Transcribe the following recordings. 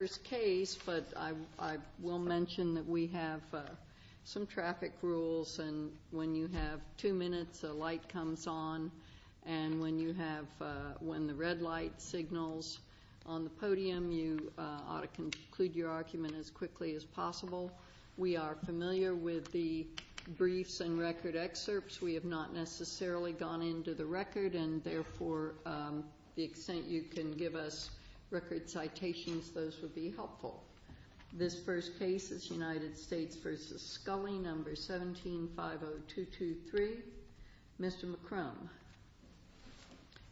First case, but I will mention that we have some traffic rules, and when you have two minutes a light comes on, and when the red light signals on the podium you ought to conclude your argument as quickly as possible. We are familiar with the briefs and record excerpts. We have not necessarily gone into the record, and therefore the extent you can give us record citations, those would be helpful. This first case is United States v. Scully, No. 17-50223. Mr. McCrum,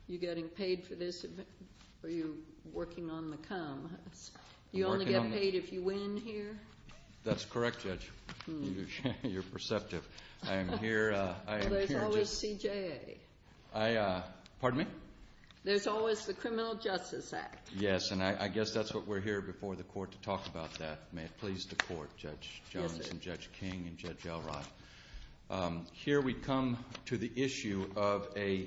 you getting paid for this or are you working on the come? You only get paid if you win here? That's correct, Judge. You're perceptive. I am here. There's always the Criminal Justice Act. Yes, and I guess that's what we're here before the Court to talk about that. May it please the Court, Judge Jones and Judge King and Judge Elrod. Here we come to the issue of a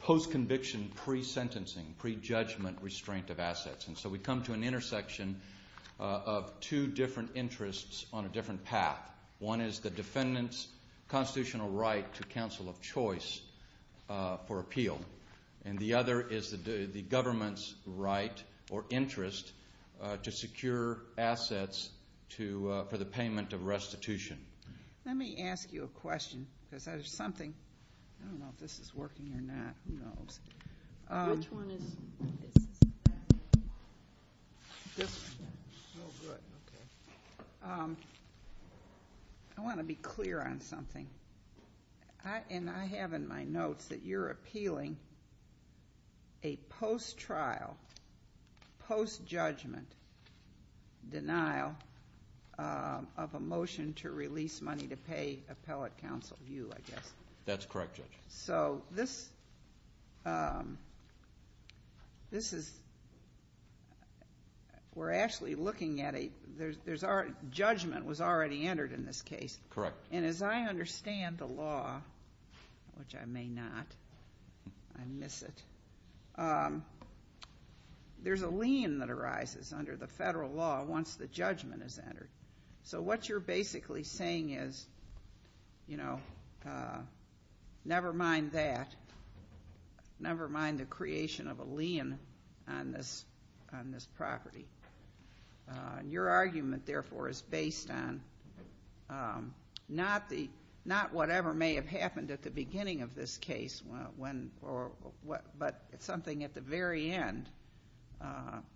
post-conviction pre-sentencing, pre-judgment restraint of assets, and so we come to an intersection of two different interests on a different path. One is the defendant's government's right or interest to secure assets for the payment of restitution. Let me ask you a question because there's something, I don't know if this is working or not. I want to be clear on a post-trial, post-judgment denial of a motion to release money to pay appellate counsel, you, I guess. That's correct, Judge. So this is, we're actually looking at a, there's already, judgment was already entered in this case. Correct. And as I understand the law, which I may not, I miss it, there's a lien that arises under the federal law once the judgment is entered. So what you're basically saying is, you know, never mind that, never mind the creation of a lien on this property. And your argument, therefore, is based on not whatever may have happened at the beginning of this case, but something at the very end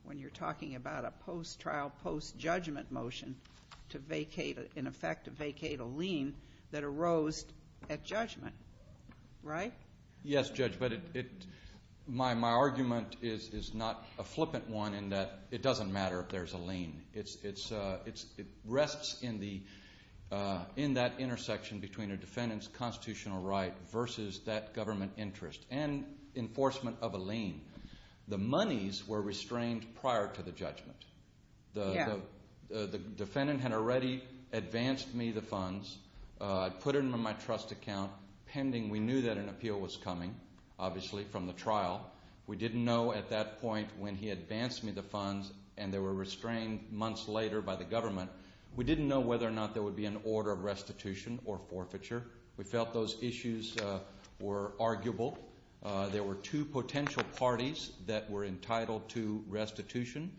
when you're talking about a post-trial, post-judgment motion to vacate, in effect, to vacate a lien that arose at judgment, right? Yes, Judge, but my argument is not a flippant one in that it doesn't matter if there's a lien. It rests in that intersection between a defendant's constitutional right versus that government interest and enforcement of a lien. The monies were restrained prior to the pending, we knew that an appeal was coming, obviously, from the trial. We didn't know at that point when he advanced me the funds and they were restrained months later by the government, we didn't know whether or not there would be an order of restitution or forfeiture. We felt those issues were arguable. There were two potential parties that were entitled to restitution.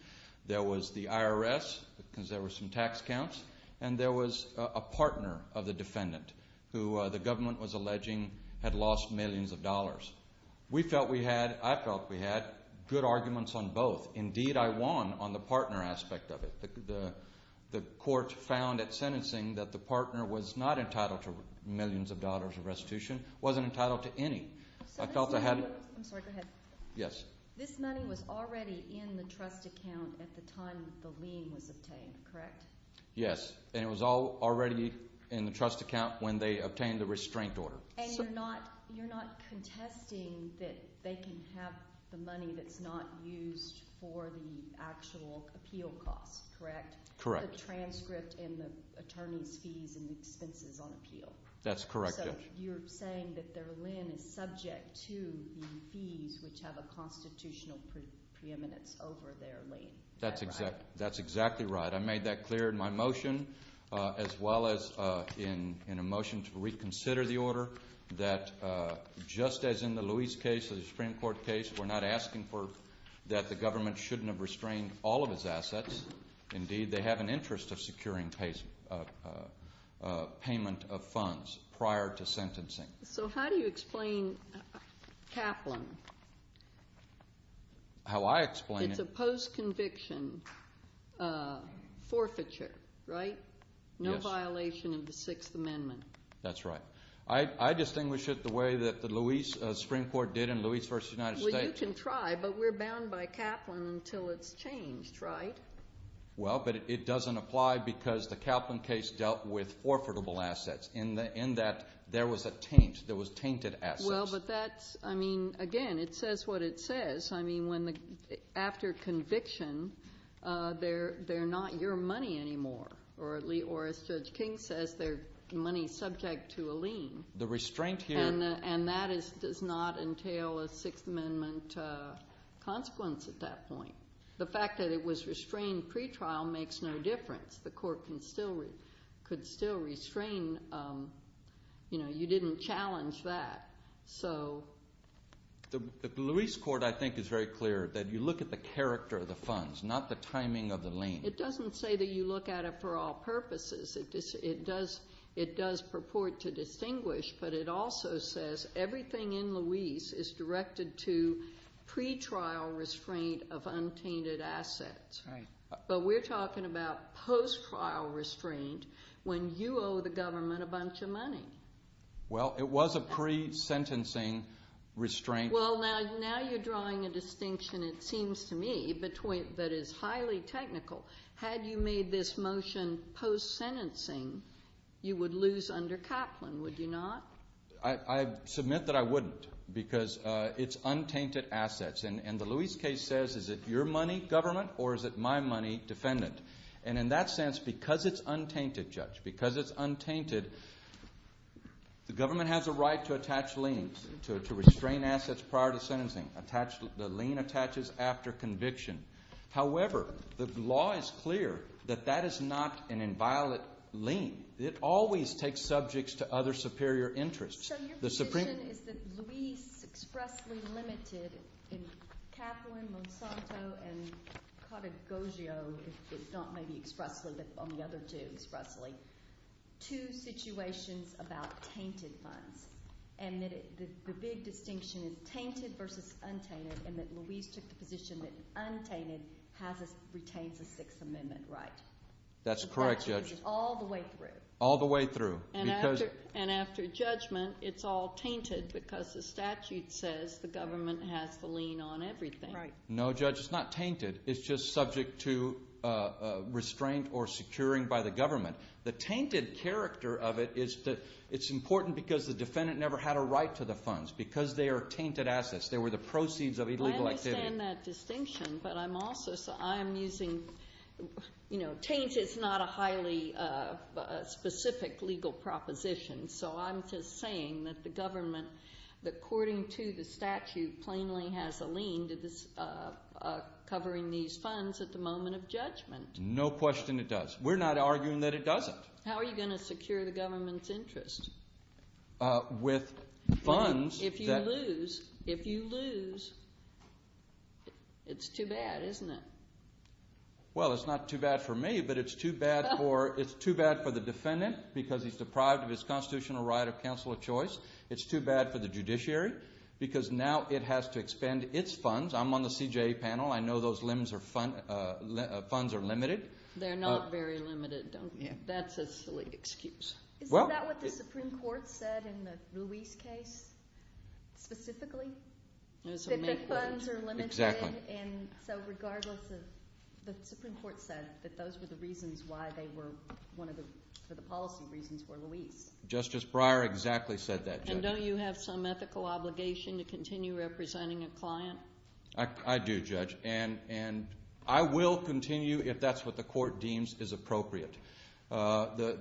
There was the IRS, because there were some tax counts, and there was a partner of the defendant who the government was alleging had lost millions of dollars. We felt we had, I felt we had, good arguments on both. Indeed, I won on the partner aspect of it. The court found at sentencing that the partner was not entitled to millions of dollars of restitution, wasn't entitled to any. I felt I had, I'm sorry, go ahead. Yes. This money was already in the trust account at the time the lien was obtained, correct? Yes, and it was all already in the trust account when they obtained the restraint order. And you're not, you're not contesting that they can have the money that's not used for the actual appeal cost, correct? Correct. The transcript and the attorney's fees and the fees which have a constitutional preeminence over their lien. That's exactly right. I made that clear in my motion, as well as in a motion to reconsider the order, that just as in the Luis case, the Supreme Court case, we're not asking for, that the government shouldn't have restrained all of his assets. Indeed, they have an interest of securing payment of funds prior to sentencing. So how do you explain Kaplan? How I explain it? It's a post-conviction forfeiture, right? Yes. No violation of the Sixth Amendment. That's right. I distinguish it the way that the Luis, Supreme Court did in Luis v. United States. Well, you can try, but we're bound by Kaplan until it's changed, right? Well, but it doesn't apply because the Kaplan case dealt with there was a taint. There was tainted assets. Well, but that's, I mean, again, it says what it says. I mean, after conviction, they're not your money anymore. Or as Judge King says, their money's subject to a lien. The restraint here... And that does not entail a Sixth Amendment consequence at that point. The fact that it was restrained pre-trial makes no difference. The didn't challenge that. So... The Luis court, I think, is very clear that you look at the character of the funds, not the timing of the lien. It doesn't say that you look at it for all purposes. It does purport to distinguish, but it also says everything in Luis is directed to pre-trial restraint of untainted assets. Right. But we're talking about post-trial restraint when you owe the government a bunch of money. Well, it was a pre-sentencing restraint. Well, now you're drawing a distinction, it seems to me, that is highly technical. Had you made this motion post-sentencing, you would lose under Kaplan, would you not? I submit that I wouldn't because it's untainted assets. And the Luis case says, is it your money, government, or is it my money, defendant? And in that sense, because it's untainted, Judge, because it's untainted, the government has a right to attach liens, to restrain assets prior to sentencing. The lien attaches after conviction. However, the law is clear that that is not an inviolate lien. It always takes subjects to other superior interests. So your position is that Luis expressly limited in Kaplan, Monsanto, and Cattegoggio, if not maybe expressly, but on the other two expressly, two situations about tainted funds, and that the big distinction is tainted versus untainted, and that Luis took the position that untainted retains a Sixth Amendment right. That's correct, Judge. All the way through. All the way through. And after judgment, it's all the lien on everything. No, Judge, it's not tainted. It's just subject to restraint or securing by the government. The tainted character of it is that it's important because the defendant never had a right to the funds because they are tainted assets. They were the proceeds of illegal activity. I understand that distinction, but I'm also, I'm using, you know, taint is not a highly specific legal proposition. So I'm just saying that the government, that according to the statute, plainly has a lien to this, covering these funds at the moment of judgment. No question it does. We're not arguing that it doesn't. How are you going to secure the government's interest? With funds. If you lose, if you lose, it's too bad, isn't it? Well, it's not too bad for me, but it's too bad for, it's too bad for the defendant because he's deprived of his constitutional right of counsel of choice. It's too bad for the judiciary because now it has to expend its funds. I'm on the CJA panel. I know those funds are limited. They're not very limited, don't you? That's a silly excuse. Is that what the Supreme Court said in the Luis case, specifically? That the funds are limited? Exactly. And so regardless of, the Supreme Court said that those were the reasons why they were one of the, for the policy reasons were Luis. Justice Breyer exactly said that, Judge. Don't you have some ethical obligation to continue representing a client? I do, Judge. And I will continue if that's what the court deems is appropriate.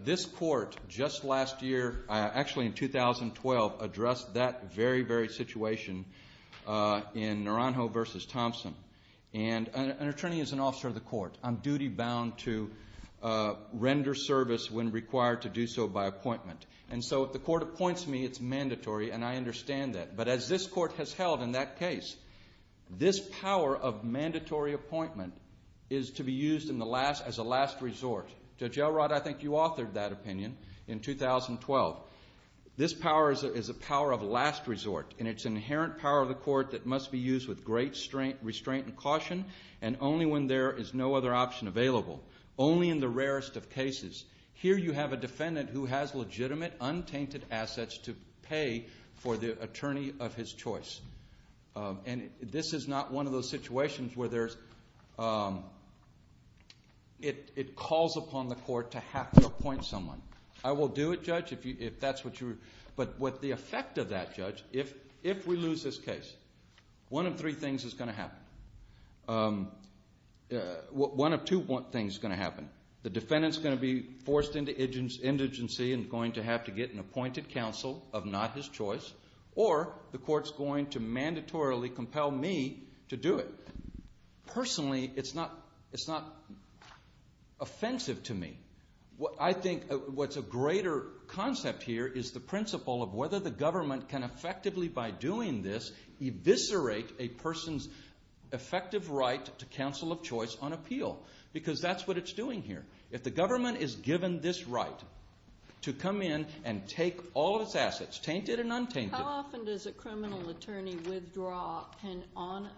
This court just last year, actually in 2012, addressed that very, very situation in Naranjo v. Thompson. And an attorney is an officer of the court. I'm duty bound to render service when required to do so by appointment. And so if the court appoints me, it's mandatory and I understand that. But as this court has held in that case, this power of mandatory appointment is to be used in the last, as a last resort. Judge Elrod, I think you authored that opinion in 2012. This power is a power of last resort. And it's inherent power of the court that must be used with great restraint and caution and only when there is no other option available, only in the rarest of cases. Here you have a defendant who has legitimate, untainted assets to pay for the attorney of his choice. And this is not one of those situations where there's, it calls upon the court to have to appoint someone. I will do it, Judge, if that's what you, but what the effect of that, Judge, if we lose this case, one of three things is going to happen. One of two things is going to happen. The defendant's going to be forced into indigency and going to have to get an appointed counsel of not his choice, or the court's going to mandatorily compel me to do it. Personally, it's not offensive to me. I think what's a greater concept here is the principle of whether the government can effectively, by doing this, eviscerate a person's effective right to counsel of choice on appeal. Because that's what it's doing here. If the government is given this right to come in and take all of its assets, tainted and untainted. How often does a criminal attorney withdraw an honor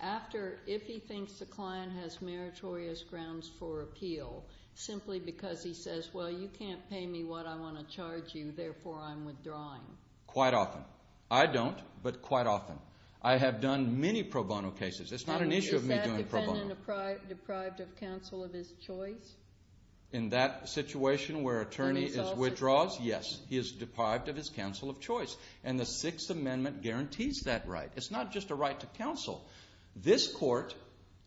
after, if he thinks the client has meritorious grounds for appeal, simply because he says, well, you can't pay me what I want to charge you, therefore I'm withdrawing? Quite often. I don't, but quite often. I have done many pro bono cases. It's not an issue of me doing pro bono. Is that defendant deprived of counsel of his choice? In that situation where an attorney withdraws, yes, he is deprived of his counsel of choice, and the Sixth Amendment guarantees that right. It's not just a right to counsel. This court,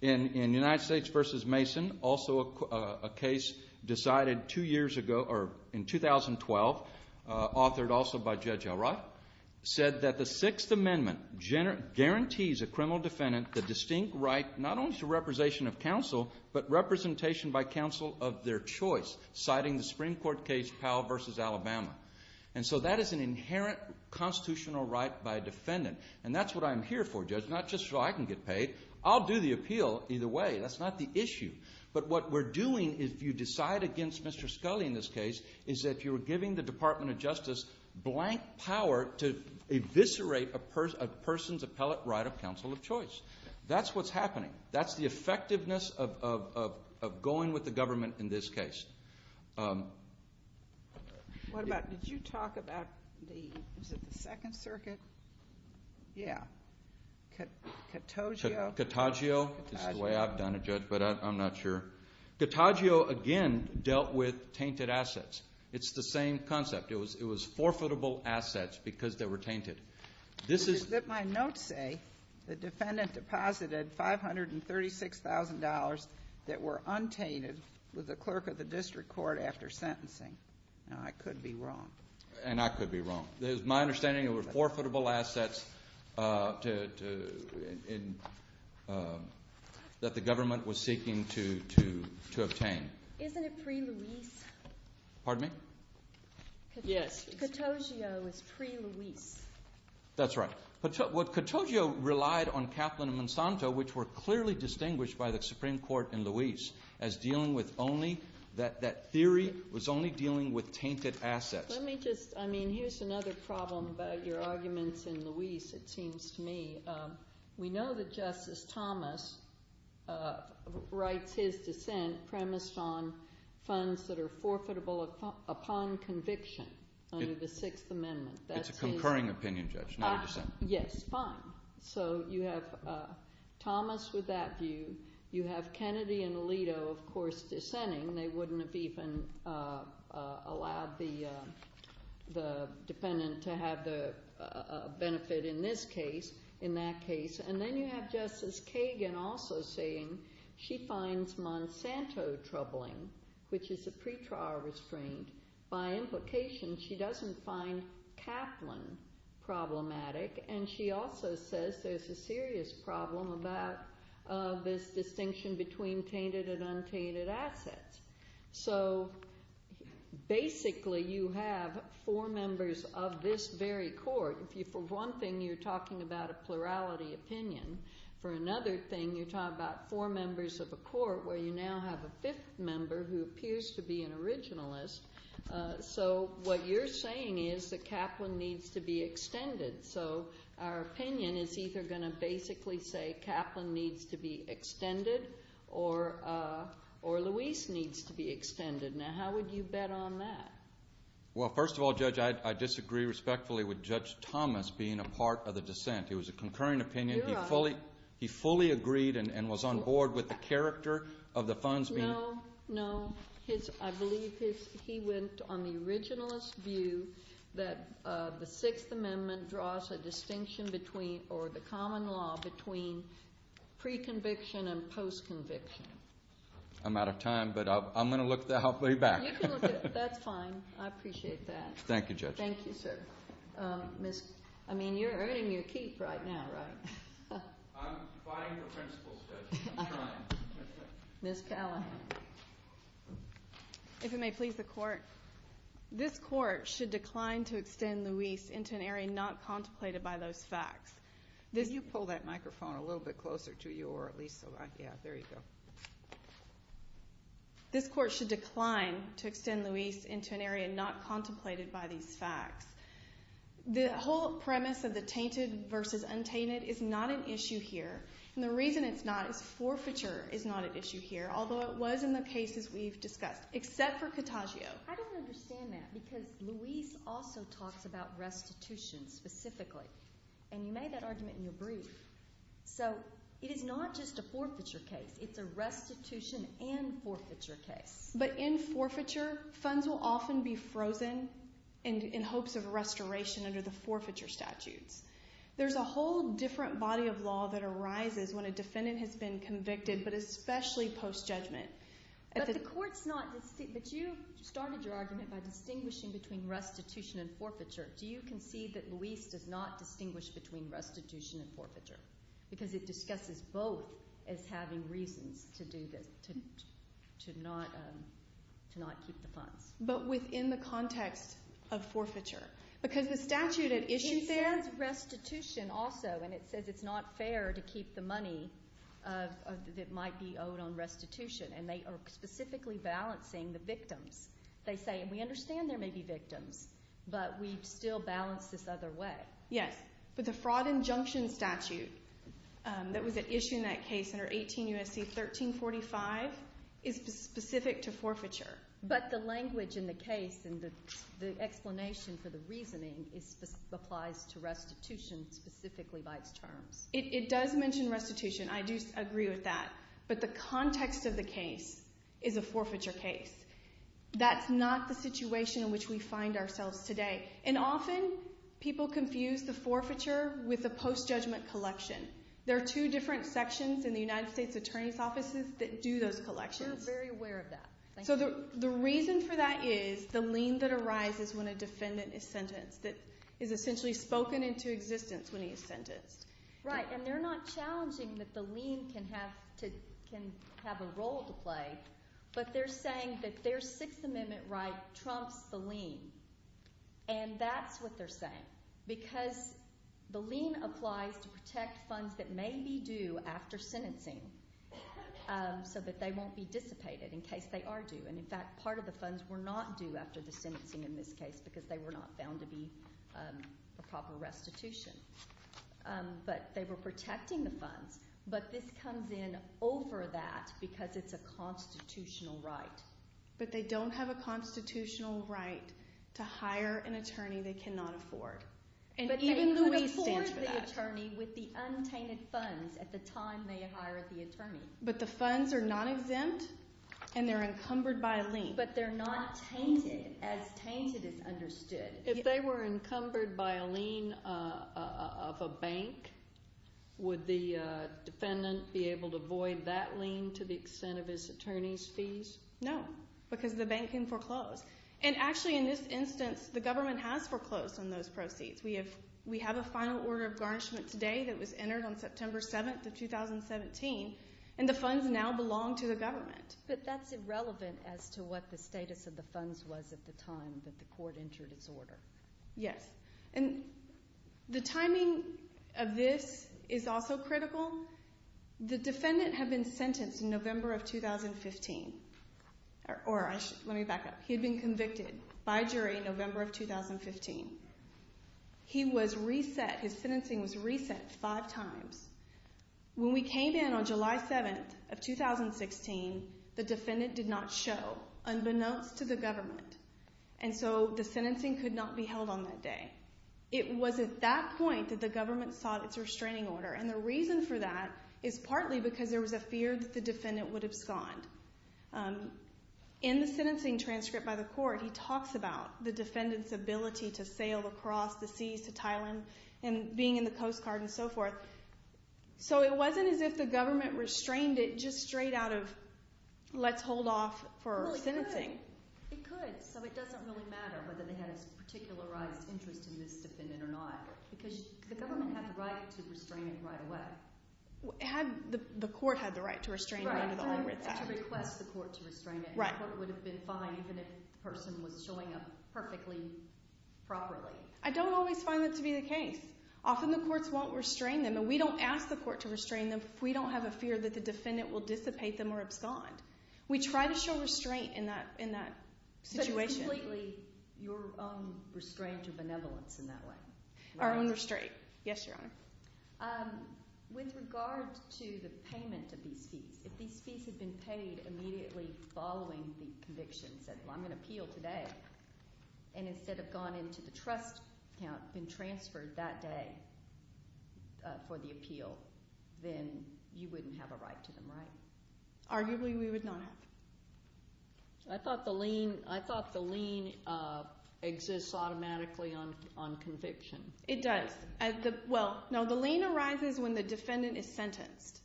in United States v. Mason, also a case decided two years ago, or in 2012, authored also by Judge Elrod, said that the Sixth Amendment guarantees a criminal defendant the distinct right not only to representation of counsel, but representation by counsel of their choice, citing the Supreme Court case Powell v. Alabama. And so that is an inherent constitutional right by a defendant. And that's what I'm here for, Judge, not just so I can get paid. I'll do the appeal either way. That's not the issue. But what we're doing, if you decide against Mr. Scully in this case, is that you're giving the Department of Justice blank power to eviscerate a person's appellate right of counsel of choice. That's what's happening. That's the effectiveness of going with the government in this case. What about, did you talk about the, was it the Second Circuit? Yeah. Cattagio? Cattagio. This is the way I've done it, Judge, but I'm not sure. Cattagio, again, dealt with tainted assets. It's the same concept. It was forfeitable assets because they were tainted. This is... But my notes say the defendant deposited $536,000 that were untainted with the clerk of the district court after sentencing. Now, I could be wrong. And I could be wrong. It was my understanding it was forfeitable assets that the government was seeking to obtain. Isn't it pre-Luis? Pardon me? Yes. Cattagio is pre-Luis. That's right. Cattagio relied on Kaplan and Monsanto, which were clearly distinguished by the Supreme Court in Luis, as dealing with only, that theory was only dealing with tainted assets. Let me just, I mean, here's another problem about your arguments in Luis, it seems to me. We know that Justice Thomas writes his dissent premised on funds that are forfeitable upon conviction under the Sixth Amendment. It's a concurring opinion, Judge, not a dissent. Yes, fine. So you have Thomas with that view. You have Kennedy and Alito, of course, dissenting. They wouldn't have even allowed the defendant to have the benefit in this case in that case. And then you have Justice Kagan also saying she finds Monsanto troubling, which is a pretrial restraint. By implication, she doesn't find Kaplan problematic. And she also says there's a serious problem about this distinction between tainted and untainted assets. So basically, you have four members of this very court. For one thing, you're talking about a plurality opinion. For another thing, you're talking about four members of a court where you now have a fifth member who appears to be an originalist. So what you're saying is that Kaplan needs to be extended. So our opinion is either going to basically say Kaplan needs to be extended or Luis needs to be extended. Now, how would you bet on that? Well, first of all, Judge, I disagree respectfully with Judge Thomas being a part of the dissent. It was a concurring opinion. You're right. He fully agreed and was on board with the character of the funds being- No, no. I believe he went on the originalist view that the Sixth Amendment draws a distinction or the common law between pre-conviction and post-conviction. I'm out of time, but I'm going to look the halfway back. You can look at it. That's fine. I appreciate that. Thank you, Judge. Thank you, sir. I mean, you're earning your keep right now, right? I'm fighting for principles, Judge. I'm trying. Ms. Callahan. If it may please the court, this court should decline to extend Luis into an area not contemplated by those facts. Can you pull that microphone a little bit closer to you or at least so I- Yeah, there you go. Okay. This court should decline to extend Luis into an area not contemplated by these facts. The whole premise of the tainted versus untainted is not an issue here, and the reason it's not is forfeiture is not an issue here, although it was in the cases we've discussed, except for Cattagio. I don't understand that because Luis also talks about restitution specifically, and you made that argument in your brief. So it is not just a forfeiture case. It's a restitution and forfeiture case. But in forfeiture, funds will often be frozen in hopes of restoration under the forfeiture statutes. There's a whole different body of law that arises when a defendant has been convicted, but especially post-judgment. But you started your argument by distinguishing between restitution and forfeiture. Do you concede that Luis does not distinguish between restitution and forfeiture? Because it discusses both as having reasons to do this, to not keep the funds. But within the context of forfeiture. Because the statute had issued there— It says restitution also, and it says it's not fair to keep the money that might be owed on restitution, and they are specifically balancing the victims. They say, and we understand there may be victims, but we still balance this other way. Yes. But the fraud injunction statute that was issued in that case under 18 U.S.C. 1345 is specific to forfeiture. But the language in the case and the explanation for the reasoning applies to restitution specifically by its terms. It does mention restitution. I do agree with that. But the context of the case is a forfeiture case. That's not the situation in which we find ourselves today. And often people confuse the forfeiture with a post-judgment collection. There are two different sections in the United States Attorney's offices that do those collections. We're very aware of that. So the reason for that is the lien that arises when a defendant is sentenced, that is essentially spoken into existence when he is sentenced. Right. And they're not challenging that the lien can have a role to play, but they're saying that their Sixth Amendment right trumps the lien. And that's what they're saying because the lien applies to protect funds that may be due after sentencing so that they won't be dissipated in case they are due. And in fact, part of the funds were not due after the sentencing in this case because they were not found to be a proper restitution. But they were protecting the funds. But this comes in over that because it's a constitutional right. But they don't have a constitutional right to hire an attorney they cannot afford. But they could afford the attorney with the untainted funds at the time they hired the attorney. But the funds are not exempt and they're encumbered by a lien. But they're not tainted as tainted is understood. If they were encumbered by a lien of a bank, would the defendant be able to void that lien to the extent of his attorney's fees? No, because the bank can foreclose. And actually in this instance, the government has foreclosed on those proceeds. We have a final order of garnishment today that was entered on September 7th of 2017 and the funds now belong to the government. But that's irrelevant as to what the status of the funds was at the time that the court entered its order. Yes. And the timing of this is also critical. The defendant had been sentenced in November of 2015. Or let me back up. He had been convicted by jury in November of 2015. He was reset. His sentencing was reset five times. When we came in on July 7th of 2016, the defendant did not show, unbeknownst to the government. And so the sentencing could not be held on that day. It was at that point that the government sought its restraining order. And the reason for that is partly because there was a fear that the defendant would abscond. In the sentencing transcript by the court, he talks about the defendant's ability to sail across the seas to Thailand and being in the Coast Guard and so forth. So it wasn't as if the government restrained it just straight out of let's hold off for sentencing. It could. So it doesn't really matter whether they had a particularized interest in this defendant or not. Because the government had the right to restrain it right away. The court had the right to restrain it under the Homeward Act. To request the court to restrain it. And the court would have been fine even if the person was showing up perfectly, properly. I don't always find that to be the case. Often the courts won't restrain them. And we don't ask the court to restrain them if we don't have a fear that the defendant will dissipate them or abscond. We try to show restraint in that situation. Completely your own restraint or benevolence in that way. Our own restraint. Yes, Your Honor. With regard to the payment of these fees, if these fees had been paid immediately following the conviction, said, well, I'm going to appeal today, and instead have gone into the trust account and been transferred that day for the appeal, then you wouldn't have a right to them, right? Arguably, we would not have. I thought the lien exists automatically on conviction. It does. Well, no, the lien arises when the defendant is sentenced.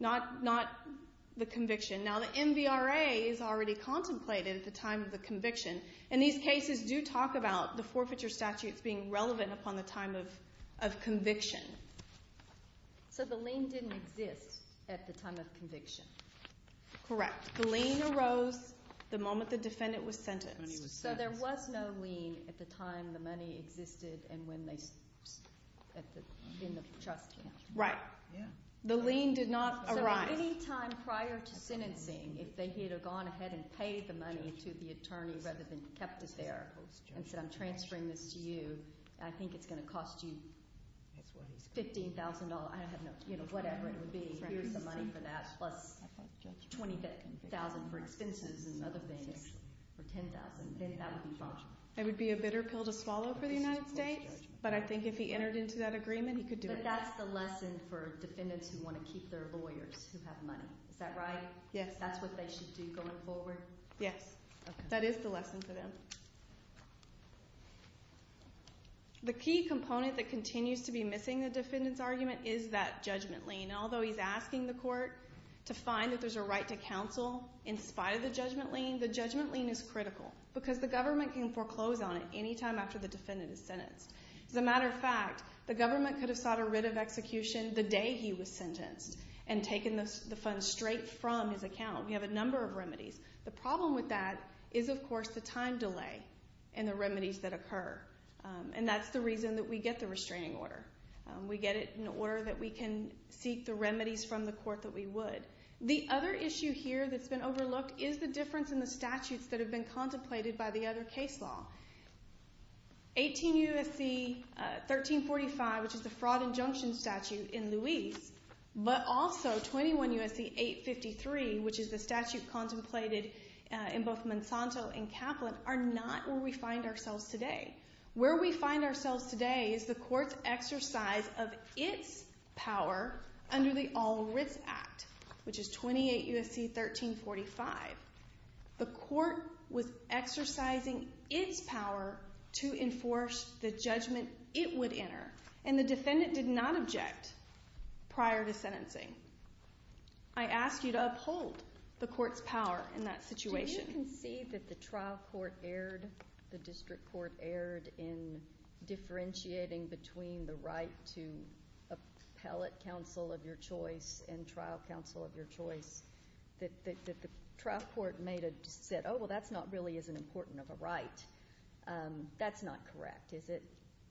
Not the conviction. Now, the MVRA is already contemplated at the time of the conviction. And these cases do talk about the forfeiture statutes being relevant upon the time of conviction. So the lien didn't exist at the time of conviction? Correct. The lien arose the moment the defendant was sentenced. So there was no lien at the time the money existed and when they, in the trust account? Right. The lien did not arise. So at any time prior to sentencing, if they had gone ahead and paid the money to the attorney rather than kept it there and said, I'm transferring this to you, I think it's going to cost you $15,000, I don't know, you know, whatever it would be, here's the money for that, plus $25,000 for expenses and other things, for $10,000, then that would be fine. It would be a bitter pill to swallow for the United States. But I think if he entered into that agreement, he could do it. But that's the lesson for defendants who want to keep their lawyers who have money. Is that right? Yes. That's what they should do going forward? Yes. That is the lesson for them. The key component that continues to be missing the defendant's argument is that judgment lien. Although he's asking the court to find that there's a right to counsel in spite of the judgment lien, the judgment lien is critical because the government can foreclose on it any time after the defendant is sentenced. As a matter of fact, the government could have sought a writ of execution the day he was sentenced and taken the funds straight from his account. We have a number of remedies. The problem with that is, of course, the time delay and the remedies that occur. And that's the reason that we get the restraining order. We get it in order that we can seek the remedies from the court that we would. The other issue here that's been overlooked is the difference in the statutes that have been contemplated by the other case law. 18 U.S.C. 1345, which is the fraud injunction statute in Louise, but also 21 U.S.C. 853, which is the statute contemplated in both Monsanto and Kaplan, are not where we find ourselves today. Where we find ourselves today is the court's exercise of its power under the All Writs Act, which is 28 U.S.C. 1345. The court was exercising its power to enforce the judgment it would enter, and the defendant did not object prior to sentencing. I ask you to uphold the court's power in that situation. Do you concede that the trial court erred, the district court erred, in differentiating between the right to appellate counsel of your choice and trial counsel of your choice? That the trial court said, oh, well, that's not really as important of a right. That's not correct, is it?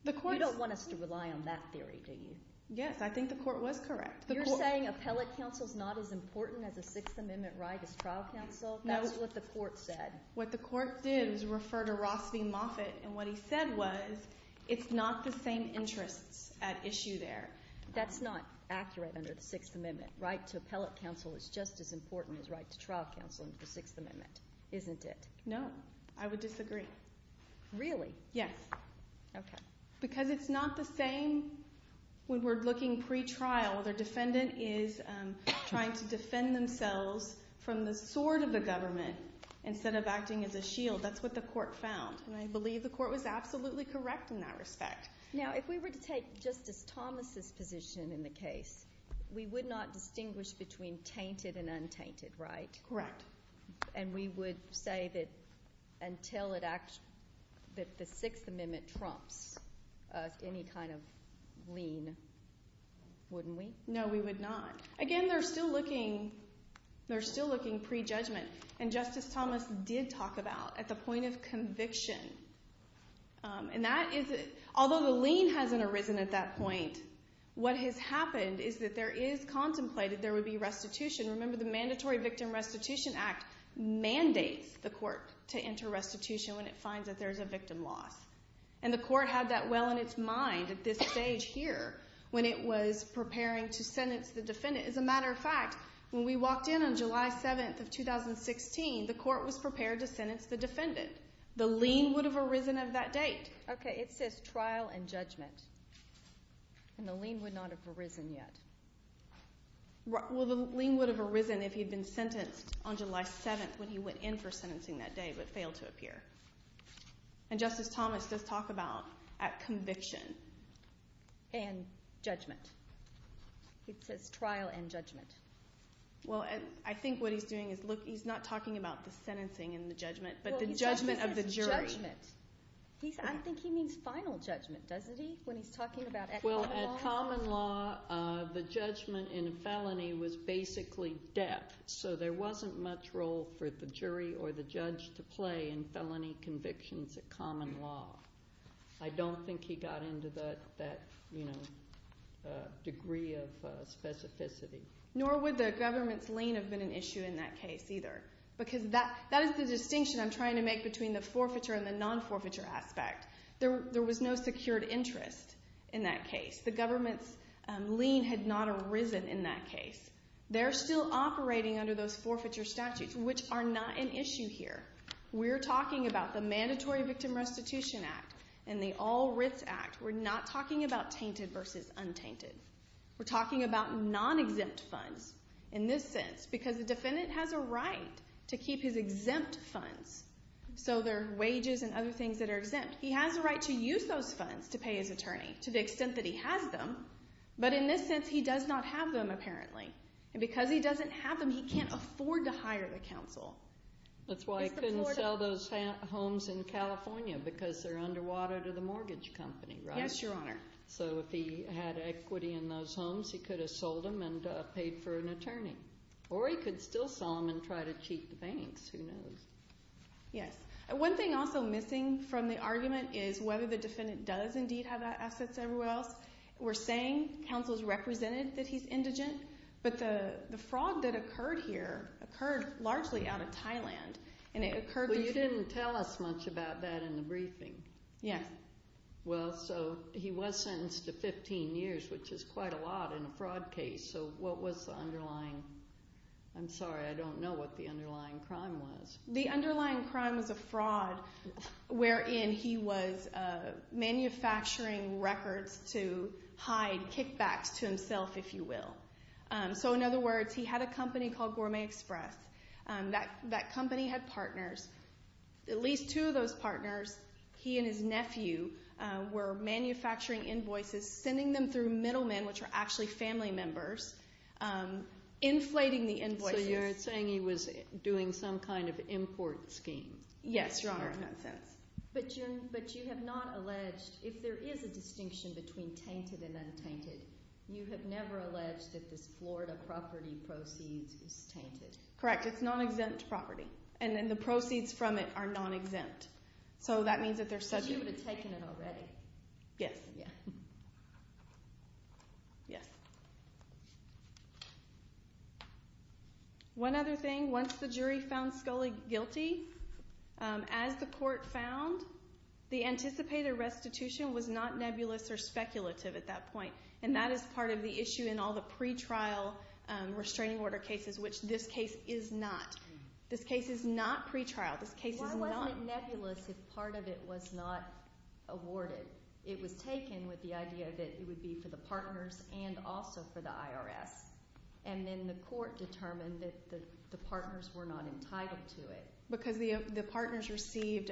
You don't want us to rely on that theory, do you? Yes, I think the court was correct. You're saying appellate counsel is not as important as a Sixth Amendment right as trial counsel? That's what the court said. What the court did was refer to Ross v. Moffitt, and what he said was, it's not the same interests at issue there. That's not accurate under the Sixth Amendment. Right to appellate counsel is just as important as right to trial counsel under the Sixth Amendment, isn't it? No, I would disagree. Really? Yes. Okay. Because it's not the same when we're looking pre-trial. The defendant is trying to defend themselves from the sword of the government instead of acting as a shield. That's what the court found, and I believe the court was absolutely correct in that respect. Now, if we were to take Justice Thomas's position in the case, we would not distinguish between tainted and untainted, right? Correct. And we would say that until the Sixth Amendment trumps any kind of lien, wouldn't we? No, we would not. Again, they're still looking pre-judgment, and Justice Thomas did talk about at the point of conviction, and that is, although the lien hasn't arisen at that point, what has happened is that there is contemplated there would be restitution. Remember, the Mandatory Victim Restitution Act mandates the court to enter restitution when it finds that there's a victim loss, and the court had that well in its mind at this stage here when it was preparing to sentence the defendant. As a matter of fact, when we walked in on July 7th of 2016, the court was prepared to sentence the defendant. The lien would have arisen at that date. Okay, it says trial and judgment, and the lien would not have arisen yet. Well, the lien would have arisen if he'd been sentenced on July 7th when he went in for sentencing that day but failed to appear. And Justice Thomas does talk about at conviction. And judgment. It says trial and judgment. Well, I think what he's doing is, look, he's not talking about the sentencing and the judgment, but the judgment of the jury. Well, he's talking about judgment. I think he means final judgment, doesn't he, when he's talking about at common law? Well, at common law, the judgment in a felony was basically death, so there wasn't much role for the jury or the judge to play in felony convictions at common law. I don't think he got into that degree of specificity. Nor would the government's lien have been an issue in that case either, because that is the distinction I'm trying to make between the forfeiture and the non-forfeiture aspect. There was no secured interest in that case. The government's lien had not arisen in that case. They're still operating under those forfeiture statutes, which are not an issue here. We're talking about the Mandatory Victim Restitution Act and the All Writs Act. We're not talking about tainted versus untainted. We're talking about non-exempt funds in this sense, because the defendant has a right to keep his exempt funds. So there are wages and other things that are exempt. He has the right to use those funds to pay his attorney, to the extent that he has them. But in this sense, he does not have them, apparently. Because he doesn't have them, he can't afford to hire the counsel. That's why he couldn't sell those homes in California, because they're underwater to the mortgage company, right? Yes, Your Honor. So if he had equity in those homes, he could have sold them and paid for an attorney. Or he could still sell them and try to cheat the banks. Who knows? Yes. One thing also missing from the argument is whether the defendant does indeed have that asset somewhere else. We're saying counsel's represented that he's indigent, but the fraud that occurred here occurred largely out of Thailand. And it occurred... Well, you didn't tell us much about that in the briefing. Yes. Well, so he was sentenced to 15 years, which is quite a lot in a fraud case. So what was the underlying... I'm sorry, I don't know what the underlying crime was. The underlying crime was a fraud wherein he was manufacturing records to hide kickbacks to himself, if you will. So in other words, he had a company called Gourmet Express. That company had partners. At least two of those partners, he and his nephew, were manufacturing invoices, sending them through middlemen, which are actually family members, inflating the invoices. So you're saying he was doing some kind of import scheme. Yes, Your Honor. In that sense. But you have not alleged... If there is a distinction between tainted and untainted, you have never alleged that this Florida property proceeds is tainted. Correct. It's non-exempt property. And then the proceeds from it are non-exempt. So that means that they're subject... Because you would have taken it already. Yes. Yeah. Yes. One other thing. Once the jury found Scully guilty, as the court found, the anticipated restitution was not nebulous or speculative at that point. And that is part of the issue in all the pretrial restraining order cases, which this case is not. This case is not pretrial. This case is not... Why wasn't it nebulous if part of it was not awarded? It was taken with the idea that it would be for the partners and also for the IRS. And then the court determined that the partners were not entitled to it. Because the partners received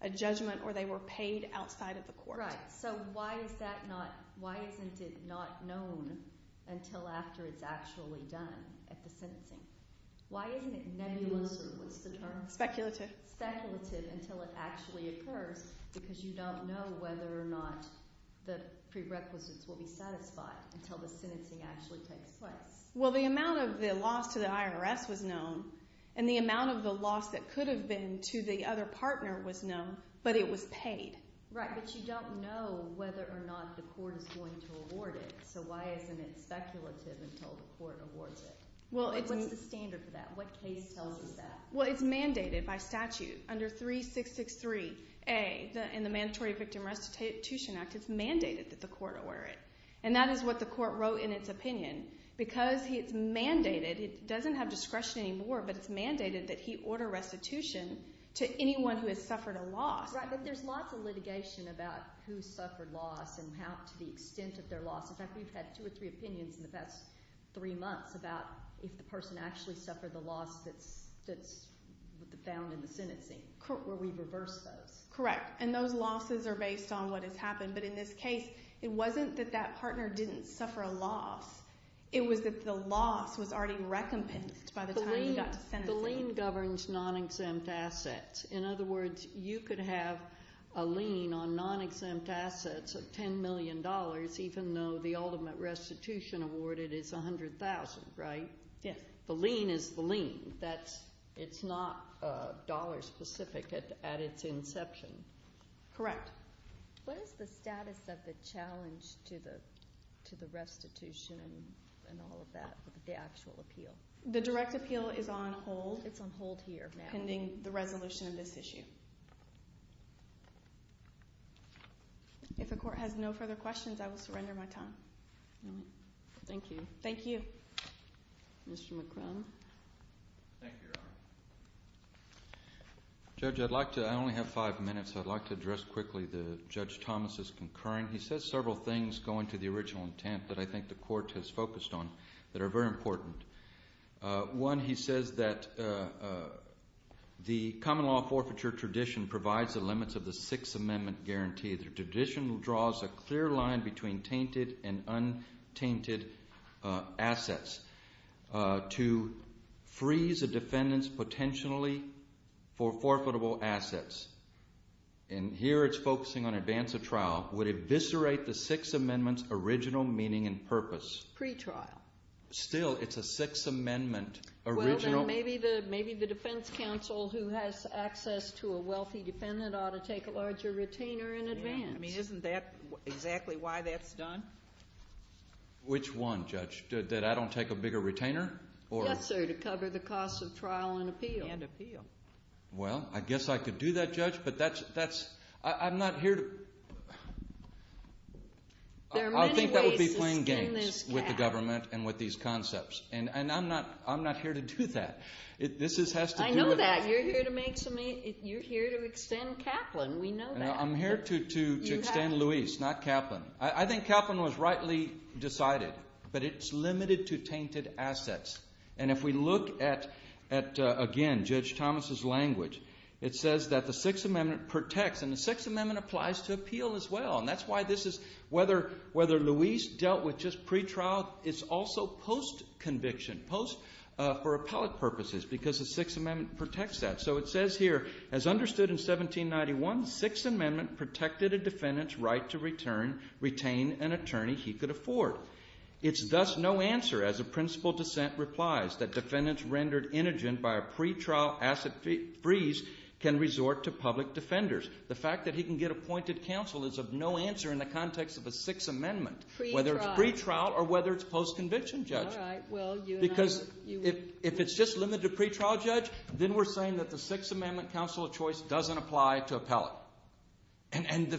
a judgment or they were paid outside of the court. Right. So why isn't it not known until after it's actually done at the sentencing? Why isn't it nebulous or what's the term? Speculative. Speculative until it actually occurs because you don't know whether or not the prerequisites will be satisfied until the sentencing actually takes place. Well, the amount of the loss to the IRS was known and the amount of the loss that could have been to the other partner was known, but it was paid. Right. But you don't know whether or not the court is going to award it. So why isn't it speculative until the court awards it? Well, it's... What's the standard for that? What case tells us that? Well, it's mandated by statute under 3663A in the Mandatory Victim Restitution Act. It's mandated that the court order it. And that is what the court wrote in its opinion. Because it's mandated, it doesn't have discretion anymore, but it's mandated that he order restitution to anyone who has suffered a loss. Right. But there's lots of litigation about who suffered loss and how to the extent of their loss. In fact, we've had two or three opinions in the past three months about if the person actually suffered the loss that's found in the sentencing where we reverse those. Correct. And those losses are based on what has happened. But in this case, it wasn't that that partner didn't suffer a loss. It was that the loss was already recompensed by the time he got to sentencing. The lien governs non-exempt assets. In other words, you could have a lien on non-exempt assets of $10 million even though the ultimate restitution awarded is $100,000, right? Yes. The lien is the lien. It's not dollar specific at its inception. Correct. What is the status of the challenge to the restitution and all of that with the actual appeal? The direct appeal is on hold. It's on hold here now. Pending the resolution of this issue. If the court has no further questions, I will surrender my time. Thank you. Thank you. Mr. McCrum. Thank you, Your Honor. Judge, I'd like to, I only have five minutes. I'd like to address quickly the Judge Thomas's concurrent. He says several things going to the original intent that I think the court has focused on that are very important. One, he says that the common law forfeiture tradition provides the limits of the Sixth Amendment guarantee. The tradition draws a clear line between tainted and untainted assets to freeze a defendant's potentially for forfeitable assets. And here it's focusing on advance of trial would eviscerate the Sixth Amendment's original meaning and purpose. Pre-trial. Still, it's a Sixth Amendment original. Well, then maybe the defense counsel who has access to a wealthy defendant ought to take a larger retainer in advance. I mean, isn't that exactly why that's done? Which one, Judge? That I don't take a bigger retainer? Yes, sir. To cover the cost of trial and appeal. And appeal. Well, I guess I could do that, Judge. But that's, that's, I'm not here to. There are many ways to skin this cat. I think that would be playing games with the government and with these concepts. And I'm not, I'm not here to do that. This has to do with. I know that. You're here to make some, you're here to extend Kaplan. We know that. I'm here to extend Luis, not Kaplan. I think Kaplan was rightly decided. But it's limited to tainted assets. And if we look at, at, again, Judge Thomas's language, it says that the Sixth Amendment protects, and the Sixth Amendment applies to appeal as well. And that's why this is, whether, whether Luis dealt with just pretrial, it's also post-conviction, post for appellate purposes, because the Sixth Amendment protects that. So it says here, as understood in 1791, Sixth Amendment protected a defendant's right to return, retain an attorney he could afford. It's thus no answer, as a principal dissent replies, that defendants rendered innocent by a pretrial asset freeze can resort to public defenders. The fact that he can get appointed counsel is of no answer in the context of a Sixth Amendment, whether it's pretrial or whether it's post-conviction, Judge. All right. Well, you and I. Because if it's just limited to pretrial, Judge, then we're saying that the Sixth Amendment counsel of choice doesn't apply to appellate. And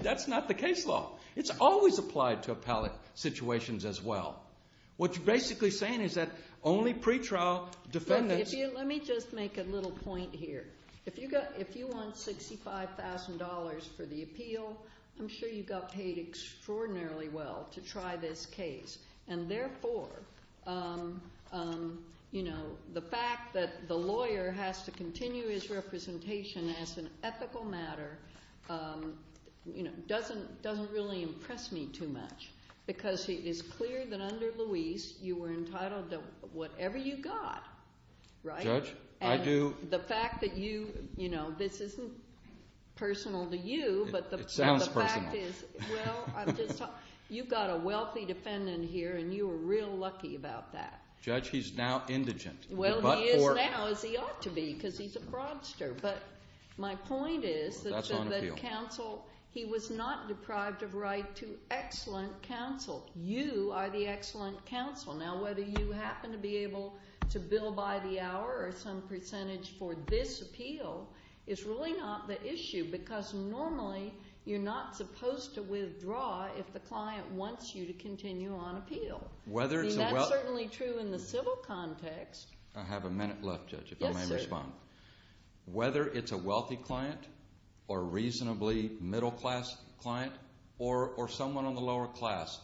that's not the case law. It's always applied to appellate situations as well. What you're basically saying is that only pretrial defendants- Let me just make a little point here. If you want $65,000 for the appeal, I'm sure you got paid extraordinarily well to try this case. And therefore, the fact that the lawyer has to continue his representation as an ethical matter doesn't really impress me too much. Because it is clear that under Luis, you were entitled to whatever you got, right? Judge, I do- The fact that this isn't personal to you, but the fact is- It sounds personal. Well, you've got a wealthy defendant here, and you were real lucky about that. Judge, he's now indigent. Well, he is now, as he ought to be, because he's a broadster. But my point is that counsel, he was not deprived of right to excellent counsel. You are the excellent counsel. Now, whether you happen to be able to bill by the hour or some percentage for this appeal is really not the issue. Because normally, you're not supposed to withdraw if the client wants you to continue on appeal. I mean, that's certainly true in the civil context. I have a minute left, Judge, if I may respond. Whether it's a wealthy client or reasonably middle-class client or someone on the lower class,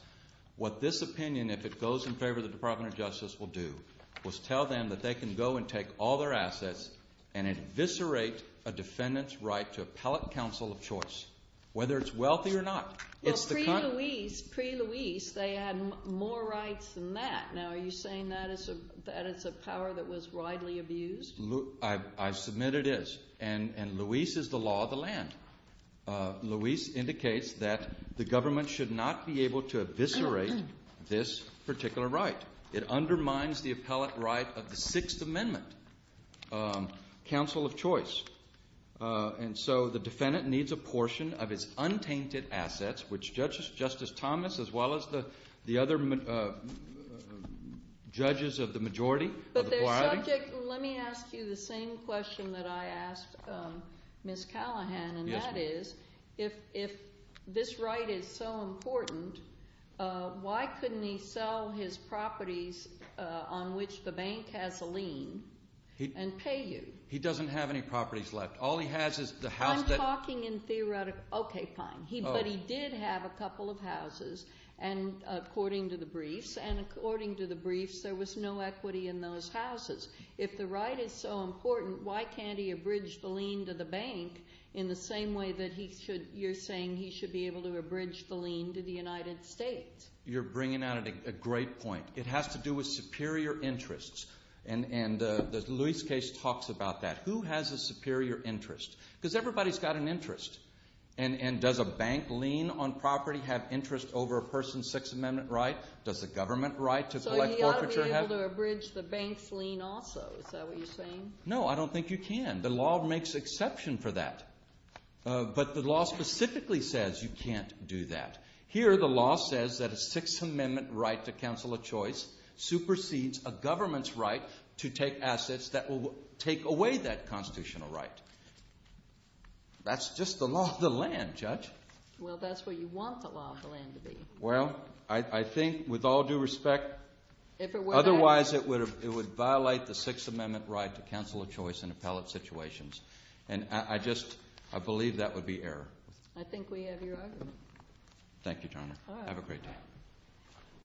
what this opinion, if it goes in favor of the Department of Justice, will do is tell them that they can go and take all their assets and eviscerate a defendant's right to appellate counsel of choice, whether it's wealthy or not. Well, pre-Luis, they had more rights than that. Now, are you saying that is a power that was widely abused? I submit it is. And Luis is the law of the land. Luis indicates that the government should not be able to eviscerate this particular right. It undermines the appellate right of the Sixth Amendment counsel of choice. And so the defendant needs a portion of his untainted assets, which Justice Thomas, as well as the other judges of the majority, of the majority— Let me ask you the same question that I asked Ms. Callahan, and that is, if this right is so important, why couldn't he sell his properties on which the bank has a lien and pay you? He doesn't have any properties left. All he has is the house that— I'm talking in theoretical—okay, fine. But he did have a couple of houses, according to the briefs, and according to the briefs, there was no equity in those houses. If the right is so important, why can't he abridge the lien to the bank in the same way that you're saying he should be able to abridge the lien to the United States? You're bringing out a great point. It has to do with superior interests, and Luis' case talks about that. Who has a superior interest? Because everybody's got an interest, and does a bank lien on property have interest over a person's Sixth Amendment right? Does the government right to collect forfeiture have— So he ought to be able to abridge the bank's lien also. Is that what you're saying? No, I don't think you can. The law makes exception for that, but the law specifically says you can't do that. Here, the law says that a Sixth Amendment right to counsel a choice supersedes a government's right to take assets that will take away that constitutional right. That's just the law of the land, Judge. Well, that's what you want the law of the land to be. Well, I think with all due respect, otherwise it would violate the Sixth Amendment right to counsel a choice in appellate situations, and I just—I believe that would be error. I think we have your argument. Thank you, Your Honor. Have a great day.